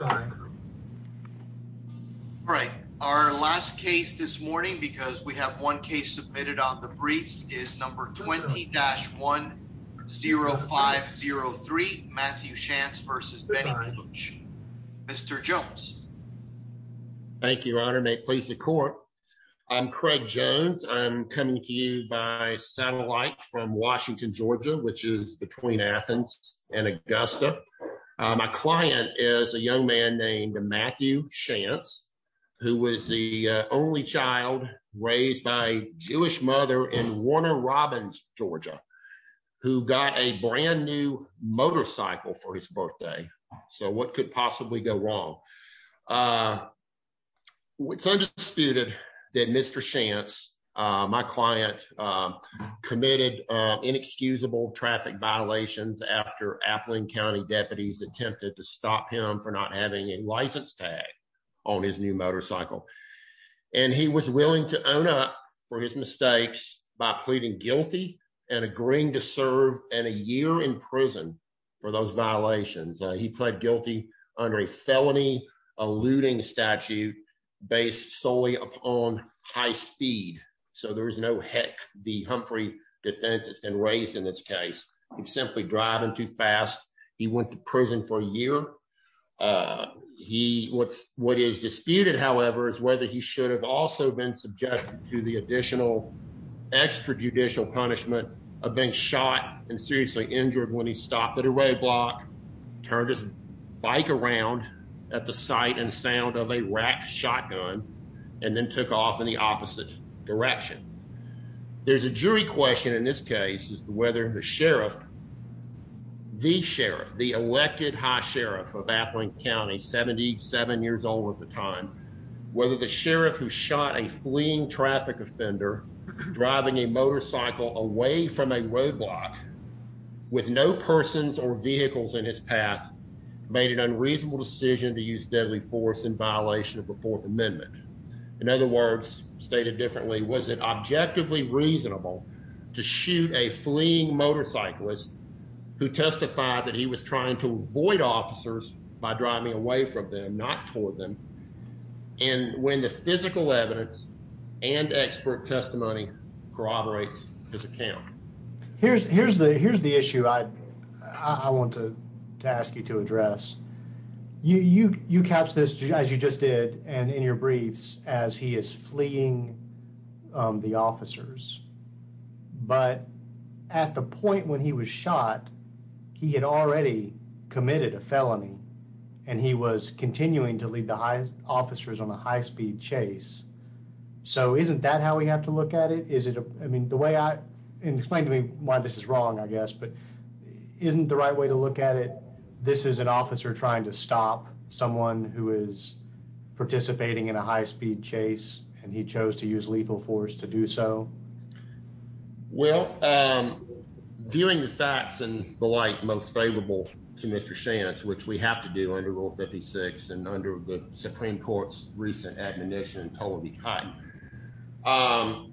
Alright, our last case this morning because we have one case submitted on the briefs is number 20-10503 Matthew Shantz versus Mr. Jones. Thank you, your honor. May it please the court. I'm Craig Jones. I'm coming to you by satellite from Washington, Georgia, which is between Athens and Augusta. My client is a young man named Matthew Shantz, who was the only child raised by a Jewish mother in Warner Robins, Georgia, who got a brand new motorcycle for his birthday. So what could possibly go wrong? It's undisputed that Mr. Shantz, my client, committed inexcusable traffic violations after Aplin County deputies attempted to stop him for not having a license tag on his new motorcycle. And he was willing to own up for his mistakes by pleading guilty and agreeing to serve and a year in prison for those violations. He pled guilty under a felony eluding statute based solely upon high speed. So there is no heck, the Humphrey defense has been raised in this case, simply driving too fast. He went to prison for a year. What is disputed, however, is whether he should have also been subjected to the additional extrajudicial punishment of being shot and seriously injured when he stopped at a roadblock, turned his bike around at the sight and sound of a rack shotgun, and then took off in the opposite direction. There's a jury question in this case as to whether the sheriff, the sheriff, the elected high sheriff of Aplin County, 77 years old at the time, whether the sheriff who shot a fleeing traffic offender driving a motorcycle away from a roadblock with no persons or vehicles in his path made an unreasonable decision to use deadly force in violation of the Fourth Amendment. In other words, stated differently, was it objectively reasonable to shoot a fleeing motorcyclist who testified that he was trying to avoid officers by driving away from them, not toward them. And when the physical evidence and expert testimony corroborates his account, here's here's the here's the issue I I want to ask you to address. You you you catch this as you just did and in your briefs as he is fleeing the officers. But at the point when he was shot, he had already committed a felony and he was continuing to lead the high officers on a high speed chase. So isn't that how we have to look at it? Is it? I mean, the way I explain to me why this is wrong, I guess, but isn't the right way to look at it. This is an officer trying to stop someone who is participating in a high speed chase and he chose to use lethal force to do so. Well, during the facts and the like, most favorable to Mr. Shantz, which we have to do under Rule 56 and under the Supreme Court's recent admonition, totally cut. Now,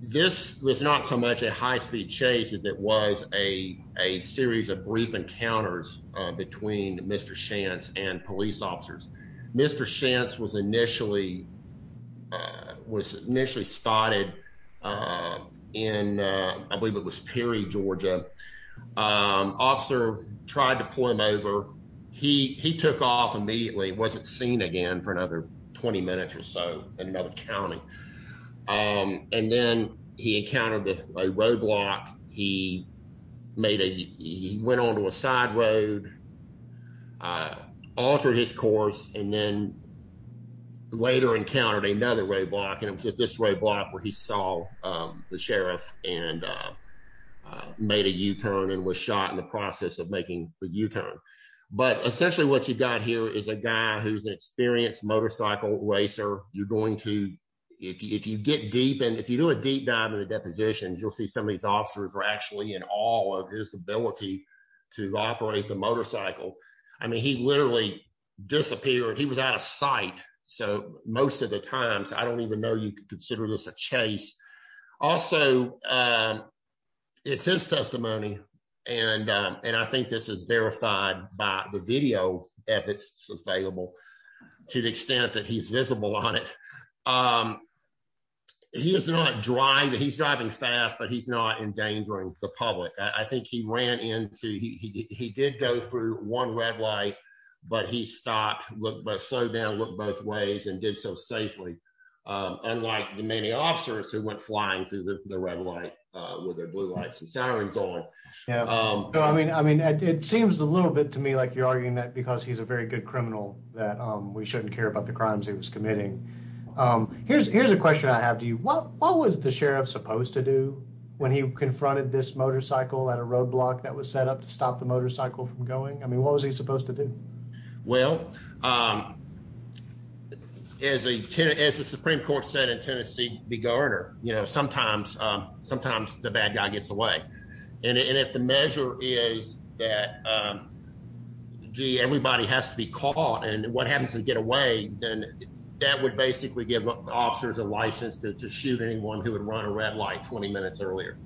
this was not so much a high speed chase as it was a a series of brief encounters between Mr. Shantz and police officers. Mr. Shantz was initially was initially spotted in, I believe it was Perry, Georgia. Officer tried to pull him over. He he took off immediately, wasn't seen again for another 20 minutes or so. Another county. And then he encountered a roadblock. He made a he went on to a side road, altered his course and then later encountered another roadblock. And it was at this roadblock where he saw the sheriff and made a U-turn and was shot in the process of making the U-turn. But essentially what you got here is a guy who's an experienced motorcycle racer. You're going to if you get deep and if you do a deep dive in the depositions, you'll see some of these officers are actually in awe of his ability to operate the motorcycle. I mean, he literally disappeared. He was out of sight. So most of the times I don't even know you could consider this a chase. Also, it's his testimony. And and I think this is verified by the video if it's available to the extent that he's visible on it. He is not driving. He's driving fast, but he's not endangering the public. I think he ran into he did go through one red light, but he stopped, slowed down, looked both ways and did so safely, unlike the many officers who went flying through the red light with their blue lights and sirens on. Yeah, I mean, I mean, it seems a little bit to me like you're arguing that because he's a very good criminal that we shouldn't care about the crimes he was committing. Here's here's a question I have to you. What what was the sheriff supposed to do when he confronted this motorcycle at a roadblock that was set up to stop the motorcycle from going? I mean, what was he supposed to do? Well, as a as the Supreme Court said in Tennessee, be guard or, you know, sometimes sometimes the bad guy gets away. And if the measure is that, gee, everybody has to be caught and what happens to get away, then that would basically give officers a license to shoot anyone who would run a red light 20 minutes earlier.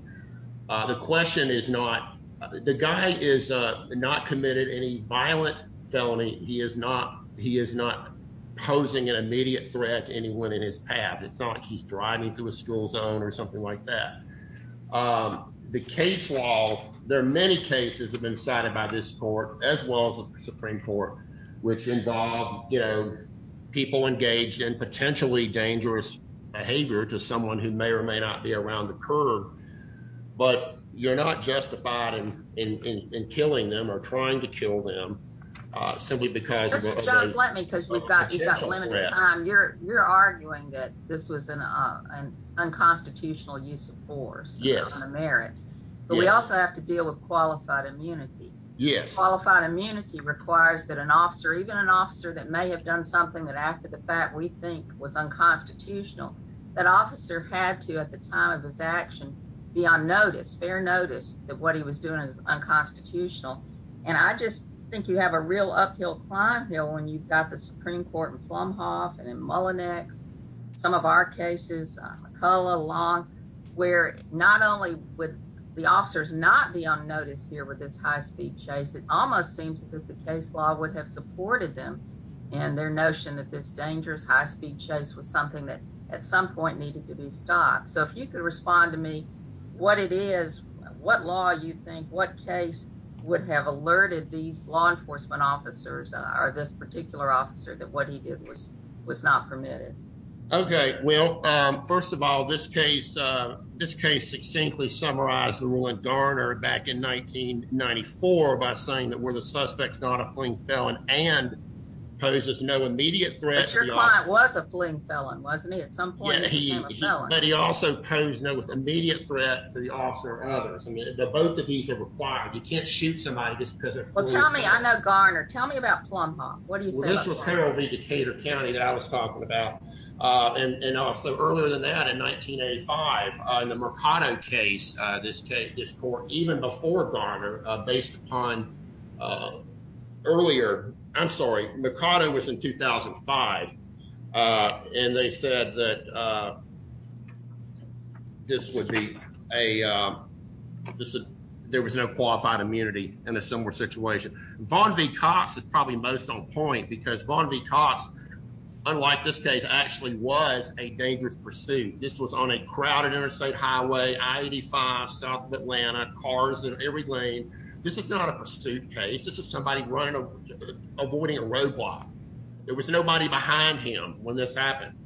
The question is not the guy is not committed any violent felony. He is not he is not posing an immediate threat to anyone in his path. It's not like he's driving through a school zone or something like that. The case law, there are many cases have been cited by this court as well as the Supreme Court, which involve, you know, people engaged in potentially dangerous behavior to someone who may or may not be around the curb. But you're not justified in in killing them or trying to kill them simply because it's just like me, because we've got you're you're arguing that this was an unconstitutional use of force. Yes, merits. But we also have to deal with qualified immunity. Yes. Qualified immunity requires that an officer, even an officer that may have done something that after the fact we think was unconstitutional, that officer had to at the time of his action be on notice, fair notice that what he was doing is unconstitutional. And I just think you have a real uphill climb here when you've got the Supreme Court and where not only with the officers not be on notice here with this high speed chase, it almost seems as if the case law would have supported them and their notion that this dangerous high speed chase was something that at some point needed to be stopped. So if you could respond to me what it is, what law you think, what case would have alerted these law enforcement officers or this particular officer that what he did was was not permitted? OK, well, first of all, this case, this case succinctly summarized the ruling Garner back in 1994 by saying that were the suspects not a fling felon and poses no immediate threat. Your client was a fling felon, wasn't he? At some point, he also posed no immediate threat to the officer or others. I mean, both of these are required. You can't shoot somebody just because they're fling felon. Well, tell me, I know Garner. Tell me about Plumhoff. What do you say about Plumhoff? Harold V. Decatur County that I was talking about. And so earlier than that, in 1985, in the Mercado case, this case, this court, even before Garner, based upon earlier, I'm sorry, Mercado was in 2005 and they said that this would be a there was no qualified immunity in a similar situation. Von V. Cox is probably most on point because Von V. Cox, unlike this case, actually was a dangerous pursuit. This was on a crowded interstate highway. I-85 south of Atlanta. Cars in every lane. This is not a pursuit case. This is somebody running, avoiding a roadblock. There was nobody behind him when this happened.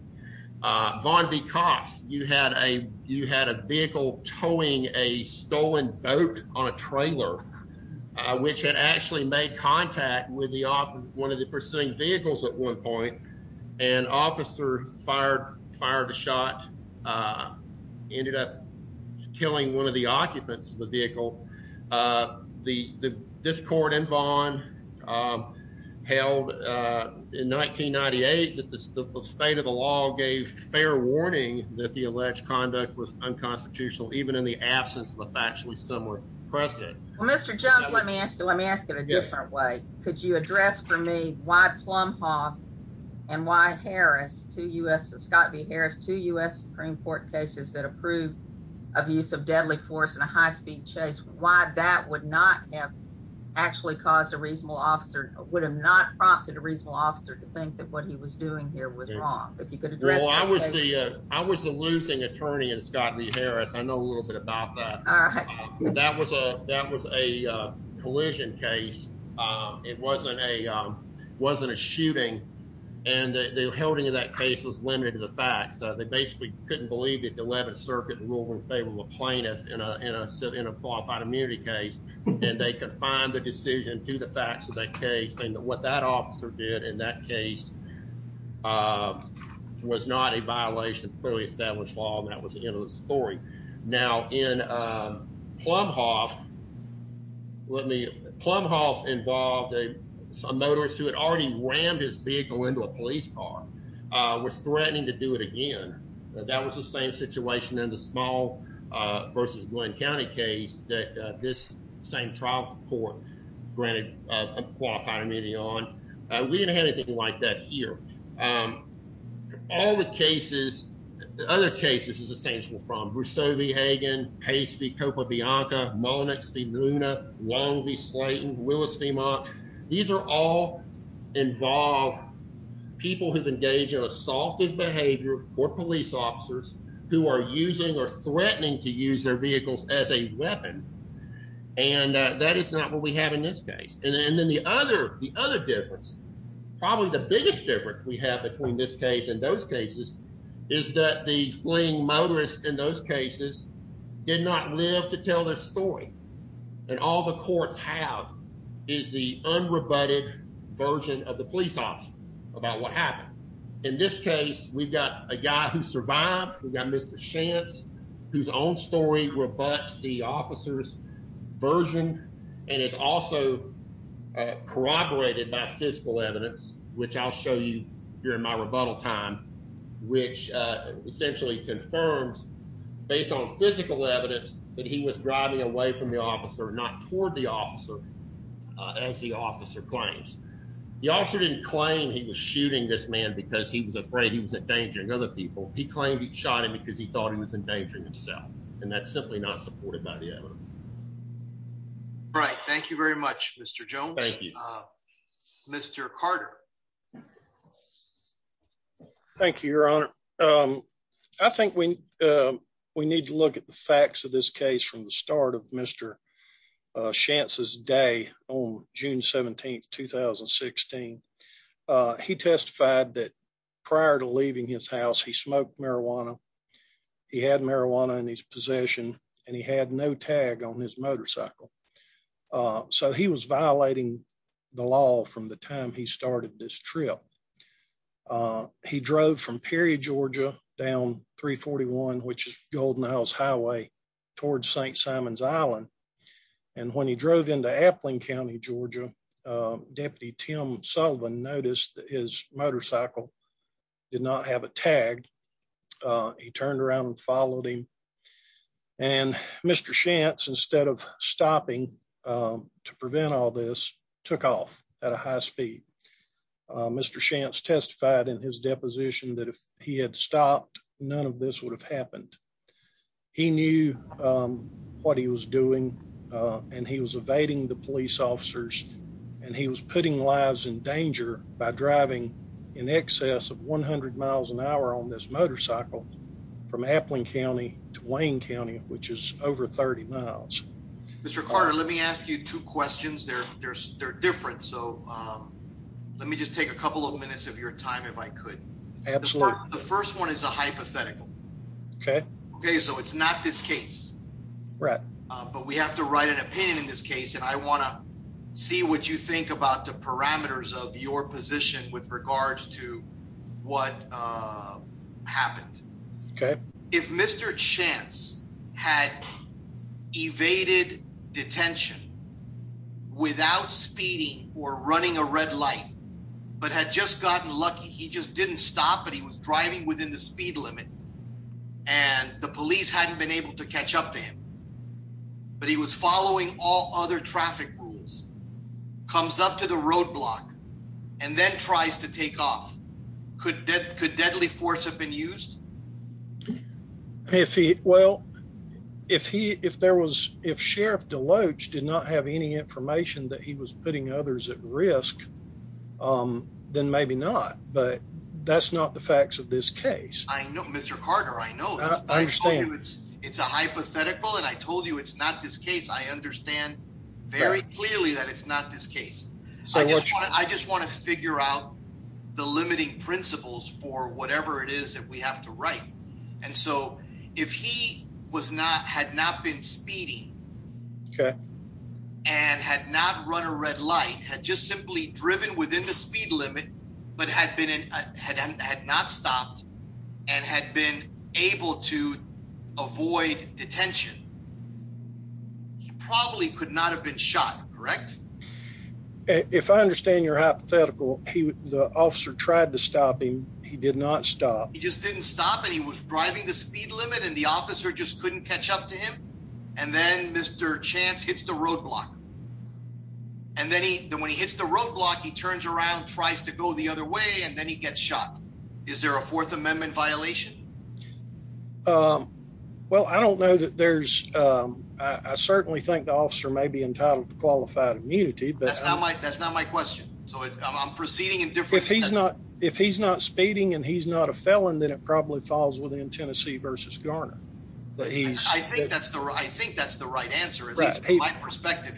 Von V. Cox, you had a you had a vehicle towing a stolen boat on a trailer, which had actually made contact with the one of the pursuing vehicles at one point. An officer fired, fired a shot, ended up killing one of the occupants of the vehicle. This court in Vaughn held in 1998 that the state of the law gave fair warning that the alleged conduct was unconstitutional, even in the absence of a factually similar precedent. Well, Mr. Jones, let me ask you, let me ask it a different way. Could you address for me why Plumhoff and why Harris to U.S. Scott v. Harris, two U.S. Supreme Court cases that approved abuse of deadly force in a high speed chase, why that would not have actually caused a reasonable officer would have not prompted a reasonable officer to think that what he was doing here was wrong. If you could address. Well, I would say I was the losing attorney in Scott v. Harris. I know a little bit about that. That was a that was a collision case. It wasn't a wasn't a shooting. And the holding of that case was limited to the fact that they basically couldn't believe that the 11th Circuit rule in favor of a plaintiff in a in a in a qualified immunity case. And they could find the decision to the facts of that case and what that officer did in that case was not a violation of clearly established law. That was the end of the story. Now, in Plumhoff, let me Plumhoff involved a motorist who had already rammed his vehicle into a police car, was threatening to do it again. That was the same situation in the small versus Glen County case that this same trial court granted a qualified immunity on. We didn't have anything like that here. Um, all the cases, the other cases is essential from Brousseau v. Hagen, Paisley, Copa Bianca, Monix v. Luna, Long v. Slayton, Willis v. Monk. These are all involved people who've engaged in assaultive behavior or police officers who are using or threatening to use their vehicles as a weapon. And that is not what we have in this case. And then the other the other difference, probably the biggest difference we have between this case and those cases is that the fleeing motorists in those cases did not live to tell their story. And all the courts have is the unrebutted version of the police officer about what happened. In this case, we've got a guy who survived. We got Mr. Chance, whose own story rebuts the officer's version and is also corroborated by physical evidence, which I'll show you here in my rebuttal time, which essentially confirms based on physical evidence that he was driving away from the officer, not toward the officer as the officer claims. The officer didn't claim he was shooting this man because he was afraid he was endangering other people. He claimed he shot him because he thought he was endangering himself, and that's simply not supported by the evidence. Right. Thank you very much, Mr. Jones. Thank you, Mr. Carter. Thank you, your honor. I think we we need to look at the facts of this case from the start of Mr. Chance's day on June 17th, 2016. He testified that prior to leaving his house, he smoked marijuana. He had marijuana in his possession and he had no tag on his motorcycle. So he was violating the law from the time he started this trip. He drove from Perry, Georgia, down 341, which is Golden House Highway, towards St. Simon's Island. And when he drove into Appling County, Georgia, Deputy Tim Sullivan noticed that his motorcycle did not have a tag. He turned around and followed him. And Mr. Chance, instead of stopping to prevent all this, took off at a high speed. Mr. Chance testified in his deposition that if he had stopped, none of this would have happened. He knew what he was doing, and he was evading the police officers, and he was putting lives in danger by driving in excess of 100 miles an hour on this motorcycle from Appling County to Wayne County, which is over 30 miles. Mr. Carter, let me ask you two questions. They're different. So let me just take a couple of minutes of your time if I could. Absolutely. The first one is a hypothetical. Okay. Okay, so it's not this case. Right. But we have to write an opinion in this case, and I wanna see what you think about the parameters of your position with regards to what happened. Okay. If Mr. Chance had evaded detention without speeding or running a red light, but had just gotten lucky, he just didn't stop, but he was driving within the speed limit, and the police hadn't been able to catch up to him, but he was following all other traffic rules, comes up to the roadblock, and then tries to take off, could deadly force have been used? Well, if Sheriff DeLoach did not have any information that he was putting others at risk, then maybe not. But that's not the facts of this case. I know, Mr. Carter, I know that. I understand. It's a hypothetical, and I told you it's not this case. I understand very clearly that it's not this case. I just wanna figure out the limiting principles for whatever it is that we have to write. And so if he had not been speeding- Okay. And had not run a red light, had just simply driven within the speed limit, but had not stopped, and had been able to avoid detention, he probably could not have been shot, correct? If I understand your hypothetical, the officer tried to stop him, he did not stop. He just didn't stop, and he was driving the speed limit, and the officer just couldn't catch up to him, and then Mr. Chance hits the roadblock. And then when he hits the roadblock, he turns around, tries to go the other way, and then he gets shot. Is there a Fourth Amendment violation? Well, I don't know that there's, I certainly think the officer may be entitled to qualified immunity, but- That's not my question. So I'm proceeding in different- If he's not speeding and he's not a felon, then it probably falls within Tennessee versus Garner. That he's- I think that's the right answer, at least from my perspective.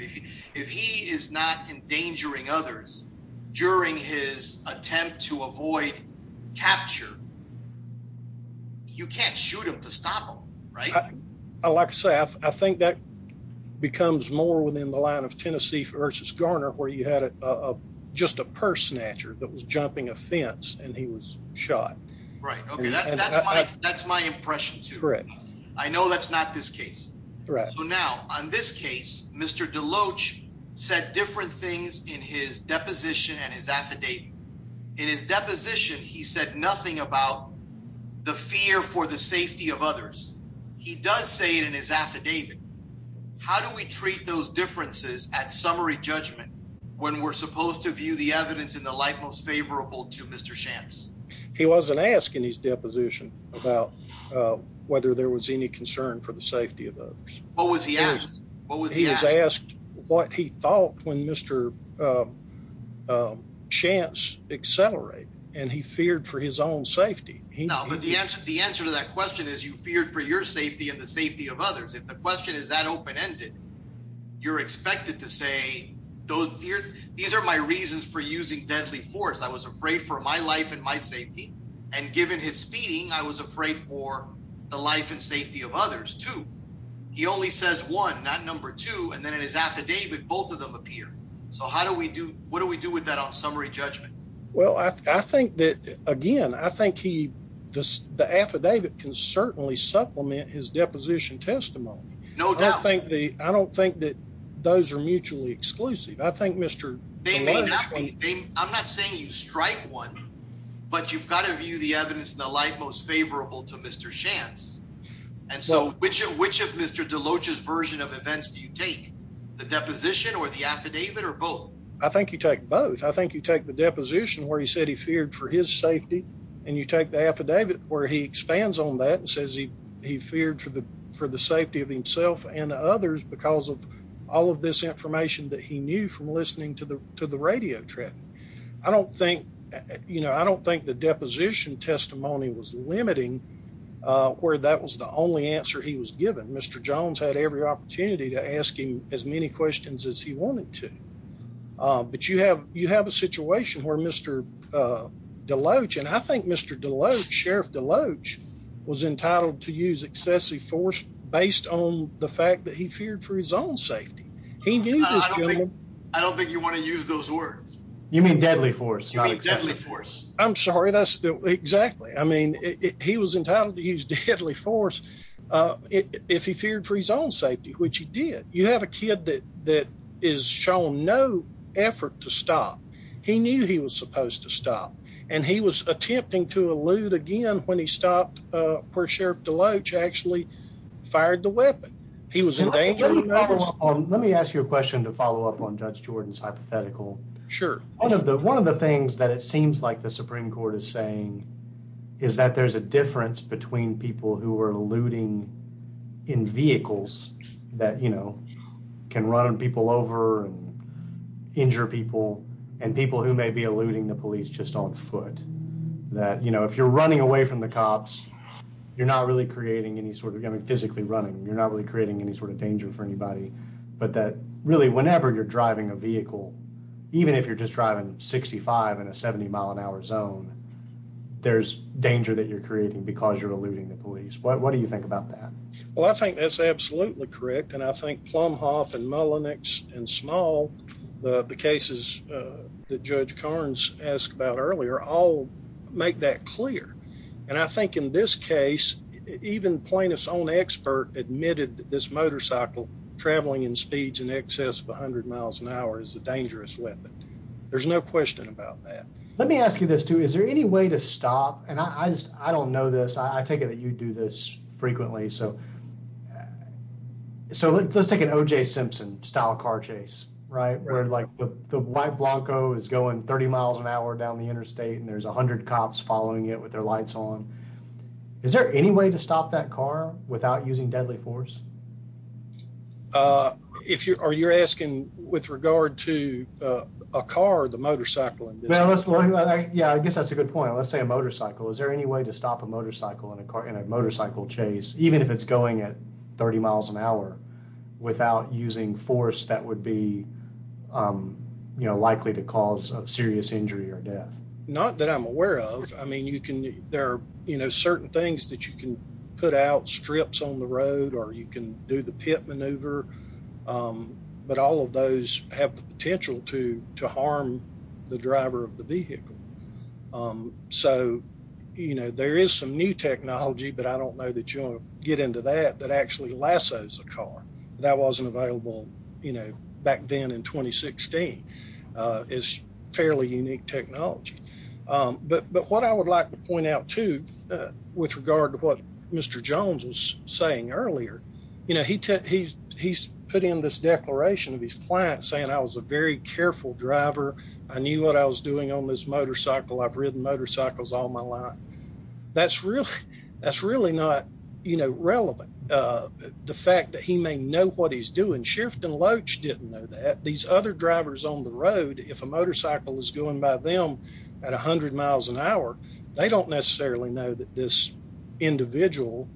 If he is not endangering others during his attempt to avoid capture, you can't shoot him to stop him, right? Like I say, I think that becomes more within the line of Tennessee versus Garner, where you had just a purse snatcher that was jumping a fence, and he was shot. Right, okay, that's my impression, too. Correct. I know that's not this case. Correct. So now, on this case, Mr. DeLoach said different things in his deposition and his affidavit. In his deposition, he said nothing about the fear for the safety of others. He does say it in his affidavit. How do we treat those differences at summary judgment when we're supposed to view the evidence in the light most favorable to Mr. Shantz? He wasn't asking his deposition about whether there was any concern for the safety of others. What was he asking? He had asked what he thought when Mr. Shantz accelerated, and he feared for his own safety. No, but the answer to that question is you feared for your safety and the safety of others. If the question is that open-ended, you're expected to say, these are my reasons for using deadly force. I was afraid for my life and my safety. And given his speeding, I was afraid for the life and safety of others, too. He only says one, not number two, and then in his affidavit, both of them appear. So what do we do with that on summary judgment? Well, I think that, again, I think the affidavit can certainly supplement his deposition testimony. No doubt. I don't think that those are mutually exclusive. I think Mr. Deloach- I'm not saying you strike one, but you've gotta view the evidence in the light most favorable to Mr. Shantz. And so, which of Mr. Deloach's version of events do you take? The deposition or the affidavit or both? I think you take both. I think you take the deposition where he said he feared for his safety, and you take the affidavit where he expands on that and says he feared for the safety of himself and others because of all of this information that he knew from listening to the radio traffic. I don't think the deposition testimony was limiting where that was the only answer he was given. Mr. Jones had every opportunity to ask him as many questions as he wanted to. But you have a situation where Mr. Deloach, and I think Mr. Deloach, Sheriff Deloach, was entitled to use excessive force based on the fact that he feared for his own safety. He knew this- I don't think you wanna use those words. You mean deadly force, not excessive force. I'm sorry, that's exactly. I mean, he was entitled to use deadly force if he feared for his own safety, which he did. You have a kid that is shown no effort to stop. He knew he was supposed to stop, and he was attempting to elude again when he stopped where Sheriff Deloach actually fired the weapon. He was in danger. Let me ask you a question to follow up on Judge Jordan's hypothetical. Sure. One of the things that it seems like the Supreme Court is saying is that there's a difference between people who are eluding in vehicles that can run people over and injure people, and people who may be eluding the police just on foot. That if you're running away from the cops, you're not really creating any sort of, I mean, physically running. You're not really creating any sort of danger for anybody. But that really, whenever you're driving a vehicle, even if you're just driving 65 in a 70 mile an hour zone, there's danger that you're creating because you're eluding the police. What do you think about that? Well, I think that's absolutely correct. And I think Plumhoff and Mullenix and Small, the cases that Judge Carnes asked about earlier, all make that clear. And I think in this case, even plaintiff's own expert admitted that this motorcycle traveling in speeds in excess of 100 miles an hour is a dangerous weapon. There's no question about that. Let me ask you this too. Is there any way to stop? And I don't know this. I take it that you do this frequently. So let's take an OJ Simpson style car chase, right? Where like the white Blanco is going 30 miles an hour down the interstate and there's 100 cops following it with their lights on. Is there any way to stop that car without using deadly force? Are you asking with regard to a car or the motorcycle? Yeah, I guess that's a good point. Let's say a motorcycle. Is there any way to stop a motorcycle in a motorcycle chase, even if it's going at 30 miles an hour, without using force that would be likely to cause a serious injury or death? Not that I'm aware of. I mean, there are certain things that you can put out strips on the road or you can do the pit maneuver, but all of those have the potential to harm the driver of the vehicle. So, there is some new technology, but I don't know that you'll get into that, that actually lasso's a car. That wasn't available back then in 2016, is fairly unique technology. But what I would like to point out too, with regard to what Mr. Jones was saying earlier, he's put in this declaration of his client saying I was a very careful driver. I knew what I was doing on this motorcycle. I've ridden motorcycles all my life. That's really not relevant. The fact that he may know what he's doing, Sherifton Loach didn't know that. These other drivers on the road, if a motorcycle is going by them at 100 miles an hour, they don't necessarily know that this individual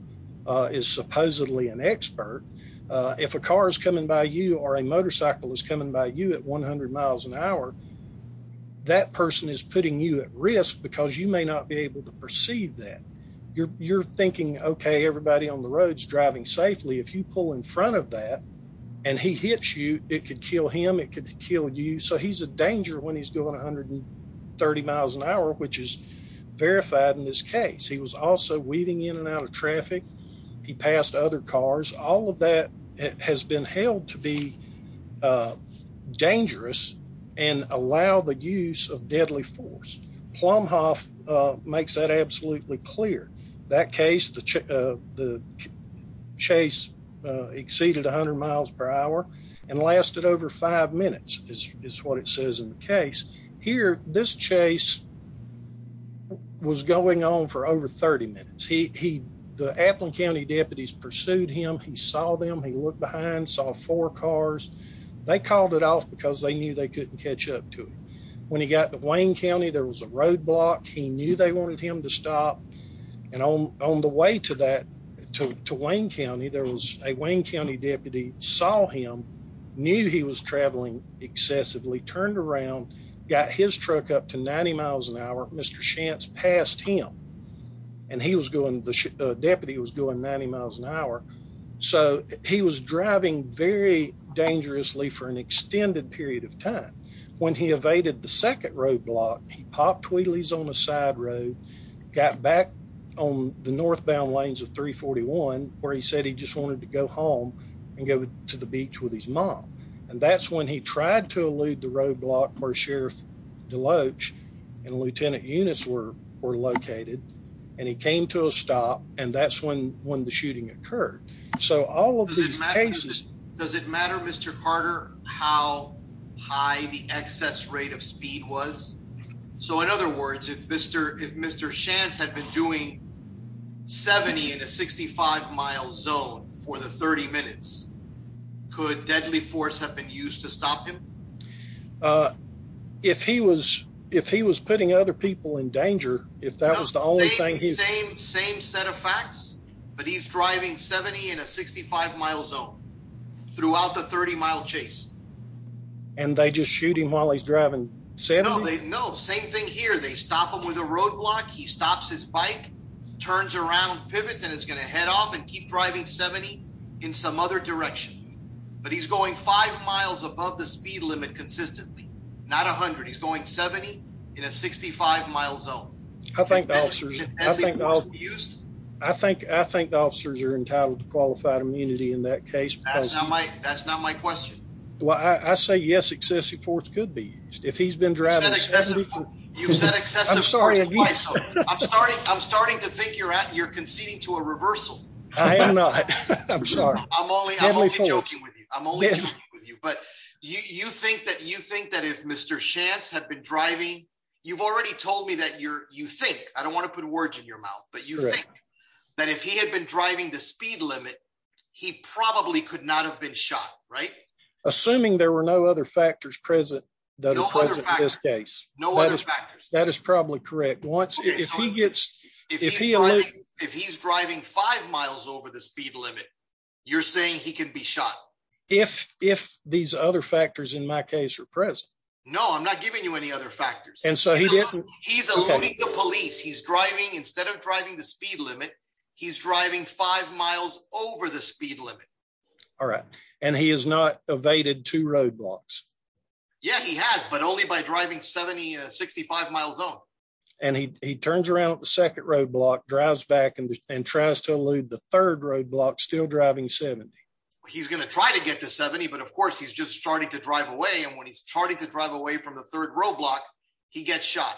is supposedly an expert. If a car is coming by you or a motorcycle is coming by you at 100 miles an hour, that person is putting you at risk because you may not be able to perceive that. You're thinking, okay, everybody on the road's driving safely. If you pull in front of that and he hits you, it could kill him, it could kill you. So he's a danger when he's going 130 miles an hour, which is verified in this case. He was also weaving in and out of traffic. He passed other cars. All of that has been held to be dangerous and allow the use of deadly force. Plumhoff makes that absolutely clear. That case, the chase exceeded 100 miles per hour and that's what it says in the case. Here, this chase was going on for over 30 minutes. The Applin County deputies pursued him. He saw them, he looked behind, saw four cars. They called it off because they knew they couldn't catch up to him. When he got to Wayne County, there was a roadblock. He knew they wanted him to stop. And on the way to Wayne County, there was a Wayne County deputy saw him, knew he was traveling excessively, turned around, got his truck up to 90 miles an hour. Mr. Shantz passed him and he was going, the deputy was going 90 miles an hour. So he was driving very dangerously for an extended period of time. When he evaded the second roadblock, he popped wheelies on a side road, got back on the northbound lanes of 341, where he said he just wanted to go home and go to the beach with his mom. And that's when he tried to elude the roadblock where Sheriff Deloach and Lieutenant Eunice were located. And he came to a stop and that's when the shooting occurred. So all of these cases- Does it matter, Mr. Carter, how high the excess rate of speed was? So in other words, if Mr. Shantz had been doing 70 in a 65 mile zone for the 30 minutes, could deadly force have been used to stop him? If he was putting other people in danger, if that was the only thing he- Same set of facts, but he's driving 70 in a 65 mile zone throughout the 30 mile chase. And they just shoot him while he's driving 70? No, same thing here. They stop him with a roadblock, he stops his bike, turns around, pivots, and is gonna head off and keep driving 70 in some other direction. But he's going five miles above the speed limit consistently, not 100. He's going 70 in a 65 mile zone. I think the officers are entitled to qualified immunity in that case. That's not my question. Well, I say yes, excessive force could be used. If he's been driving 70- You've said excessive force twice already. I'm starting to think you're conceding to a reversal. I am not, I'm sorry. I'm only joking with you, I'm only joking with you. But you think that if Mr. Shantz had been driving, you've already told me that you think, I don't wanna put words in your mouth. But you think that if he had been driving the speed limit, he probably could not have been shot, right? Assuming there were no other factors present that are present in this case. No other factors. That is probably correct. If he's driving five miles over the speed limit, you're saying he can be shot. If these other factors in my case are present. No, I'm not giving you any other factors. And so he didn't- He's eluding the police. He's driving, instead of driving the speed limit, he's driving five miles over the speed limit. All right, and he has not evaded two roadblocks. Yeah, he has, but only by driving 70 in a 65 mile zone. And he turns around at the second roadblock, drives back, and tries to elude the third roadblock, still driving 70. He's gonna try to get to 70, but of course, he's just starting to drive away. And when he's starting to drive away from the third roadblock, he gets shot.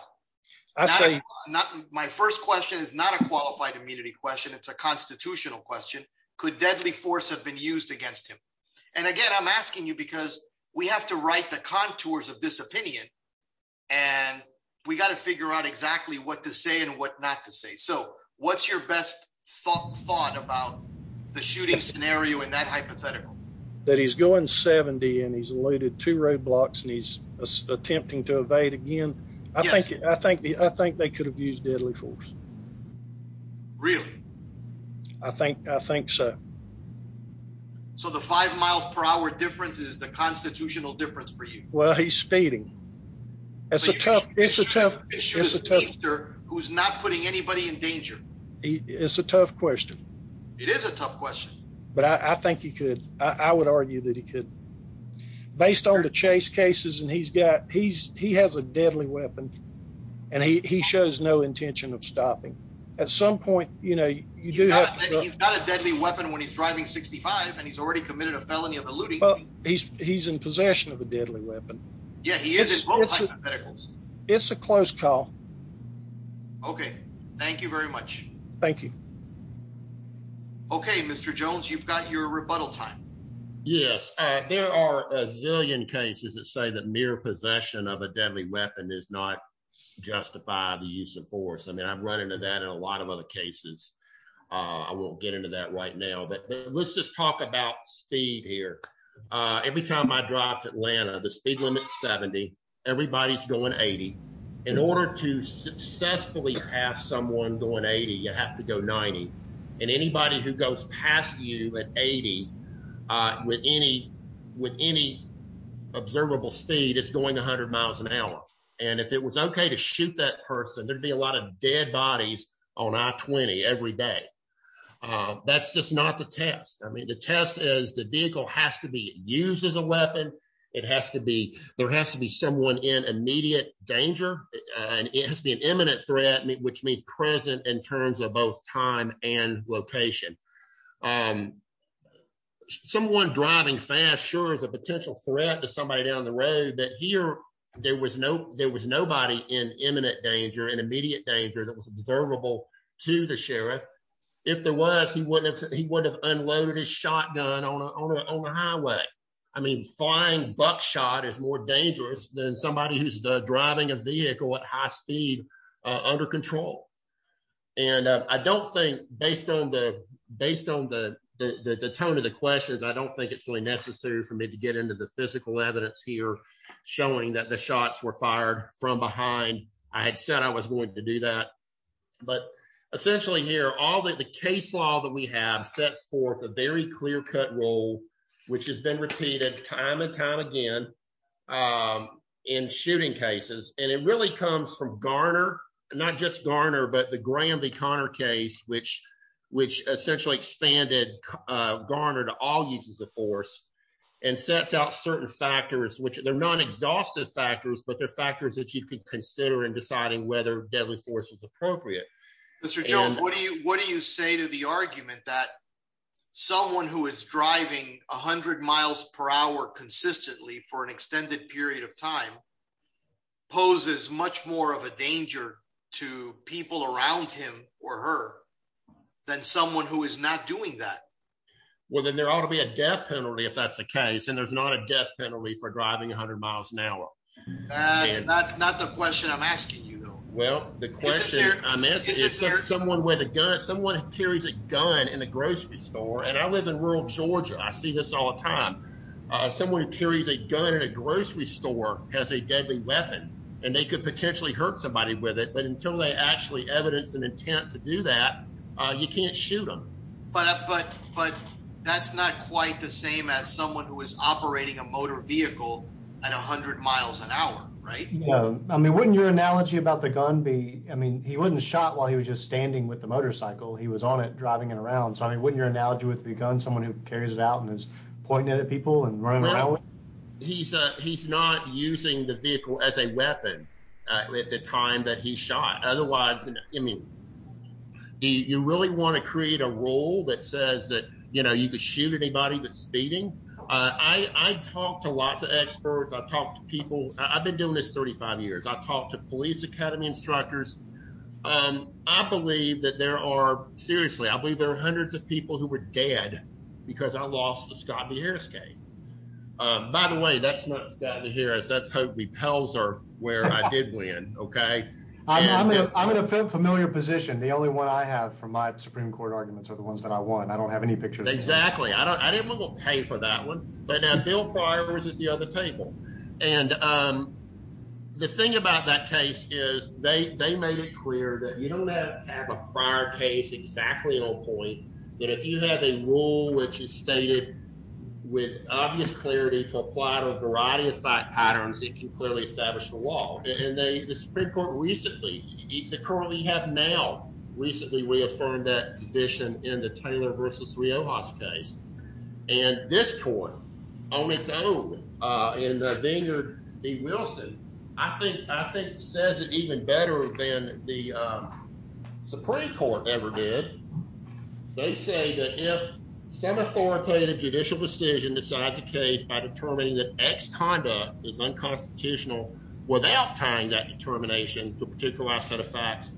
My first question is not a qualified immunity question. It's a constitutional question. Could deadly force have been used against him? And again, I'm asking you because we have to write the contours of this opinion. And we gotta figure out exactly what to say and what not to say. So what's your best thought about the shooting scenario in that hypothetical? That he's going 70 and he's eluded two roadblocks and he's attempting to evade again. I think they could have used deadly force. Really? I think so. So the five miles per hour difference is the constitutional difference for you? Well, he's speeding. It's a tough- He's shooting a speedster who's not putting anybody in danger. It's a tough question. It is a tough question. But I think he could, I would argue that he could. Based on the chase cases, and he has a deadly weapon. And he shows no intention of stopping. At some point, you do have- He's got a deadly weapon when he's driving 65, and he's already committed a felony of eluding. He's in possession of a deadly weapon. Yeah, he is in both hypotheticals. It's a close call. Okay, thank you very much. Thank you. Okay, Mr. Jones, you've got your rebuttal time. Yes, there are a zillion cases that say that mere possession of a deadly weapon does not justify the use of force. I mean, I've run into that in a lot of other cases. I won't get into that right now. But let's just talk about speed here. Every time I drive to Atlanta, the speed limit is 70. Everybody's going 80. In order to successfully pass someone going 80, you have to go 90. And anybody who goes past you at 80 with any observable speed is going 100 miles an hour. And if it was okay to shoot that person, there'd be a lot of dead bodies on I-20 every day. That's just not the test. I mean, the test is the vehicle has to be used as a weapon. It has to be, there has to be someone in immediate danger. And it has to be an imminent threat, which means present in terms of both time and location. Someone driving fast, sure, is a potential threat to somebody down the road. But here, there was nobody in imminent danger, in immediate danger that was observable to the sheriff. If there was, he wouldn't have unloaded his shotgun on a highway. I mean, flying buckshot is more dangerous than somebody who's driving a vehicle at high speed under control. And I don't think, based on the tone of the questions, I don't think it's really necessary for me to get into the physical evidence here showing that the shots were fired from behind. I had said I was going to do that. But essentially here, all that the case law that we have sets forth a very clear-cut rule, which has been repeated time and time again in shooting cases. And it really comes from Garner, not just Garner, but the Graham v. Connor case, which essentially expanded Garner to all uses of force and sets out certain factors, which they're non-exhaustive factors, but they're factors that you could consider in deciding whether deadly force was appropriate. Mr. Jones, what do you say to the argument that someone who is driving 100 miles per hour consistently for an extended period of time poses much more of a danger to people around him or her than someone who is not doing that? Well, then there ought to be a death penalty if that's the case, and there's not a death penalty for driving 100 miles an hour. That's not the question I'm asking you, though. Well, the question I'm asking is someone with a gun, someone who carries a gun in a grocery store, and I live in rural Georgia. I see this all the time. Someone who carries a gun in a grocery store has a deadly weapon, and they could potentially hurt somebody with it. But until they actually evidence an intent to do that, you can't shoot them. But that's not quite the same as someone who is operating a motor vehicle at 100 miles an hour, right? No. I mean, wouldn't your analogy about the gun be... I mean, he wasn't shot while he was just standing with the motorcycle. He was on it driving it around. So, I mean, wouldn't your analogy with the gun, someone who carries it out and is pointing it at people and running around with it? No. He's not using the vehicle as a weapon at the time that he shot. Otherwise, I mean, you really want to create a rule that says that you could shoot anybody that's speeding. I talk to lots of experts. I've talked to people. I've been doing this 35 years. I've talked to police academy instructors. I believe that there are... Seriously, I believe there are hundreds of people who were dead because I lost the Scott DeHarris case. By the way, that's not Scott DeHarris. That's Hokey Pelzer where I did win, okay? I'm in a familiar position. The only one I have from my Supreme Court arguments are the ones that I won. I don't have any pictures. Exactly. I didn't want to pay for that one. Bill Pryor was at the other table. The thing about that case is they made it clear that you don't have to have a prior case exactly on point, but if you have a rule which is stated with obvious clarity to apply to a variety of fact patterns, it can clearly establish the law. The Supreme Court recently... The court we have now recently reaffirmed that position in the Taylor versus Riojas case. And this court, on its own, in the Vineyard v. Wilson, I think says it even better than the Supreme Court ever did. They say that if some authoritative judicial decision decides a case by determining that X conduct is unconstitutional without tying that determination to a particular set of facts,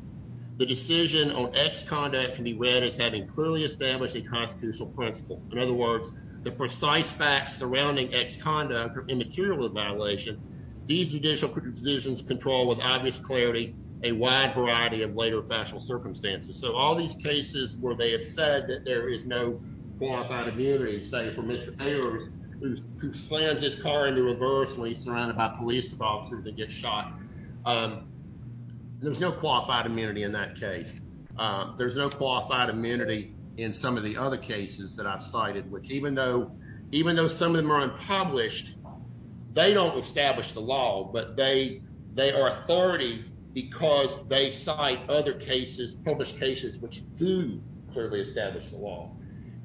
the decision on X conduct can be read as having clearly established a constitutional principle. In other words, the precise facts surrounding X conduct are immaterial to violation. These judicial decisions control with obvious clarity a wide variety of later factual circumstances. So all these cases where they have said that there is no qualified immunity, say for Mr. Taylor, who slams his car into reverse when he's surrounded by police officers and gets shot, there's no qualified immunity in that case. There's no qualified immunity in some of the other cases that I've cited, which even though some of them are unpublished, they don't establish the law, but they are authority because they cite other cases, published cases, which do clearly establish the law.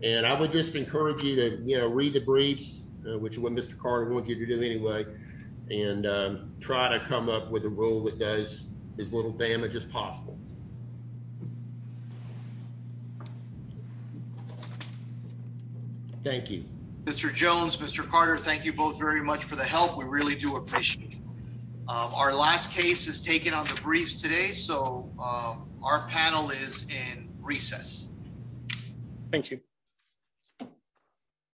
And I would just encourage you to read the briefs, which is what Mr. Carter wanted you to do anyway, and try to come up with a rule that does as little damage as possible. Thank you. Mr. Jones, Mr. Carter, thank you both very much for the help. We really do appreciate it. Our last case is taken on the briefs today, so our panel is in recess. Thank you.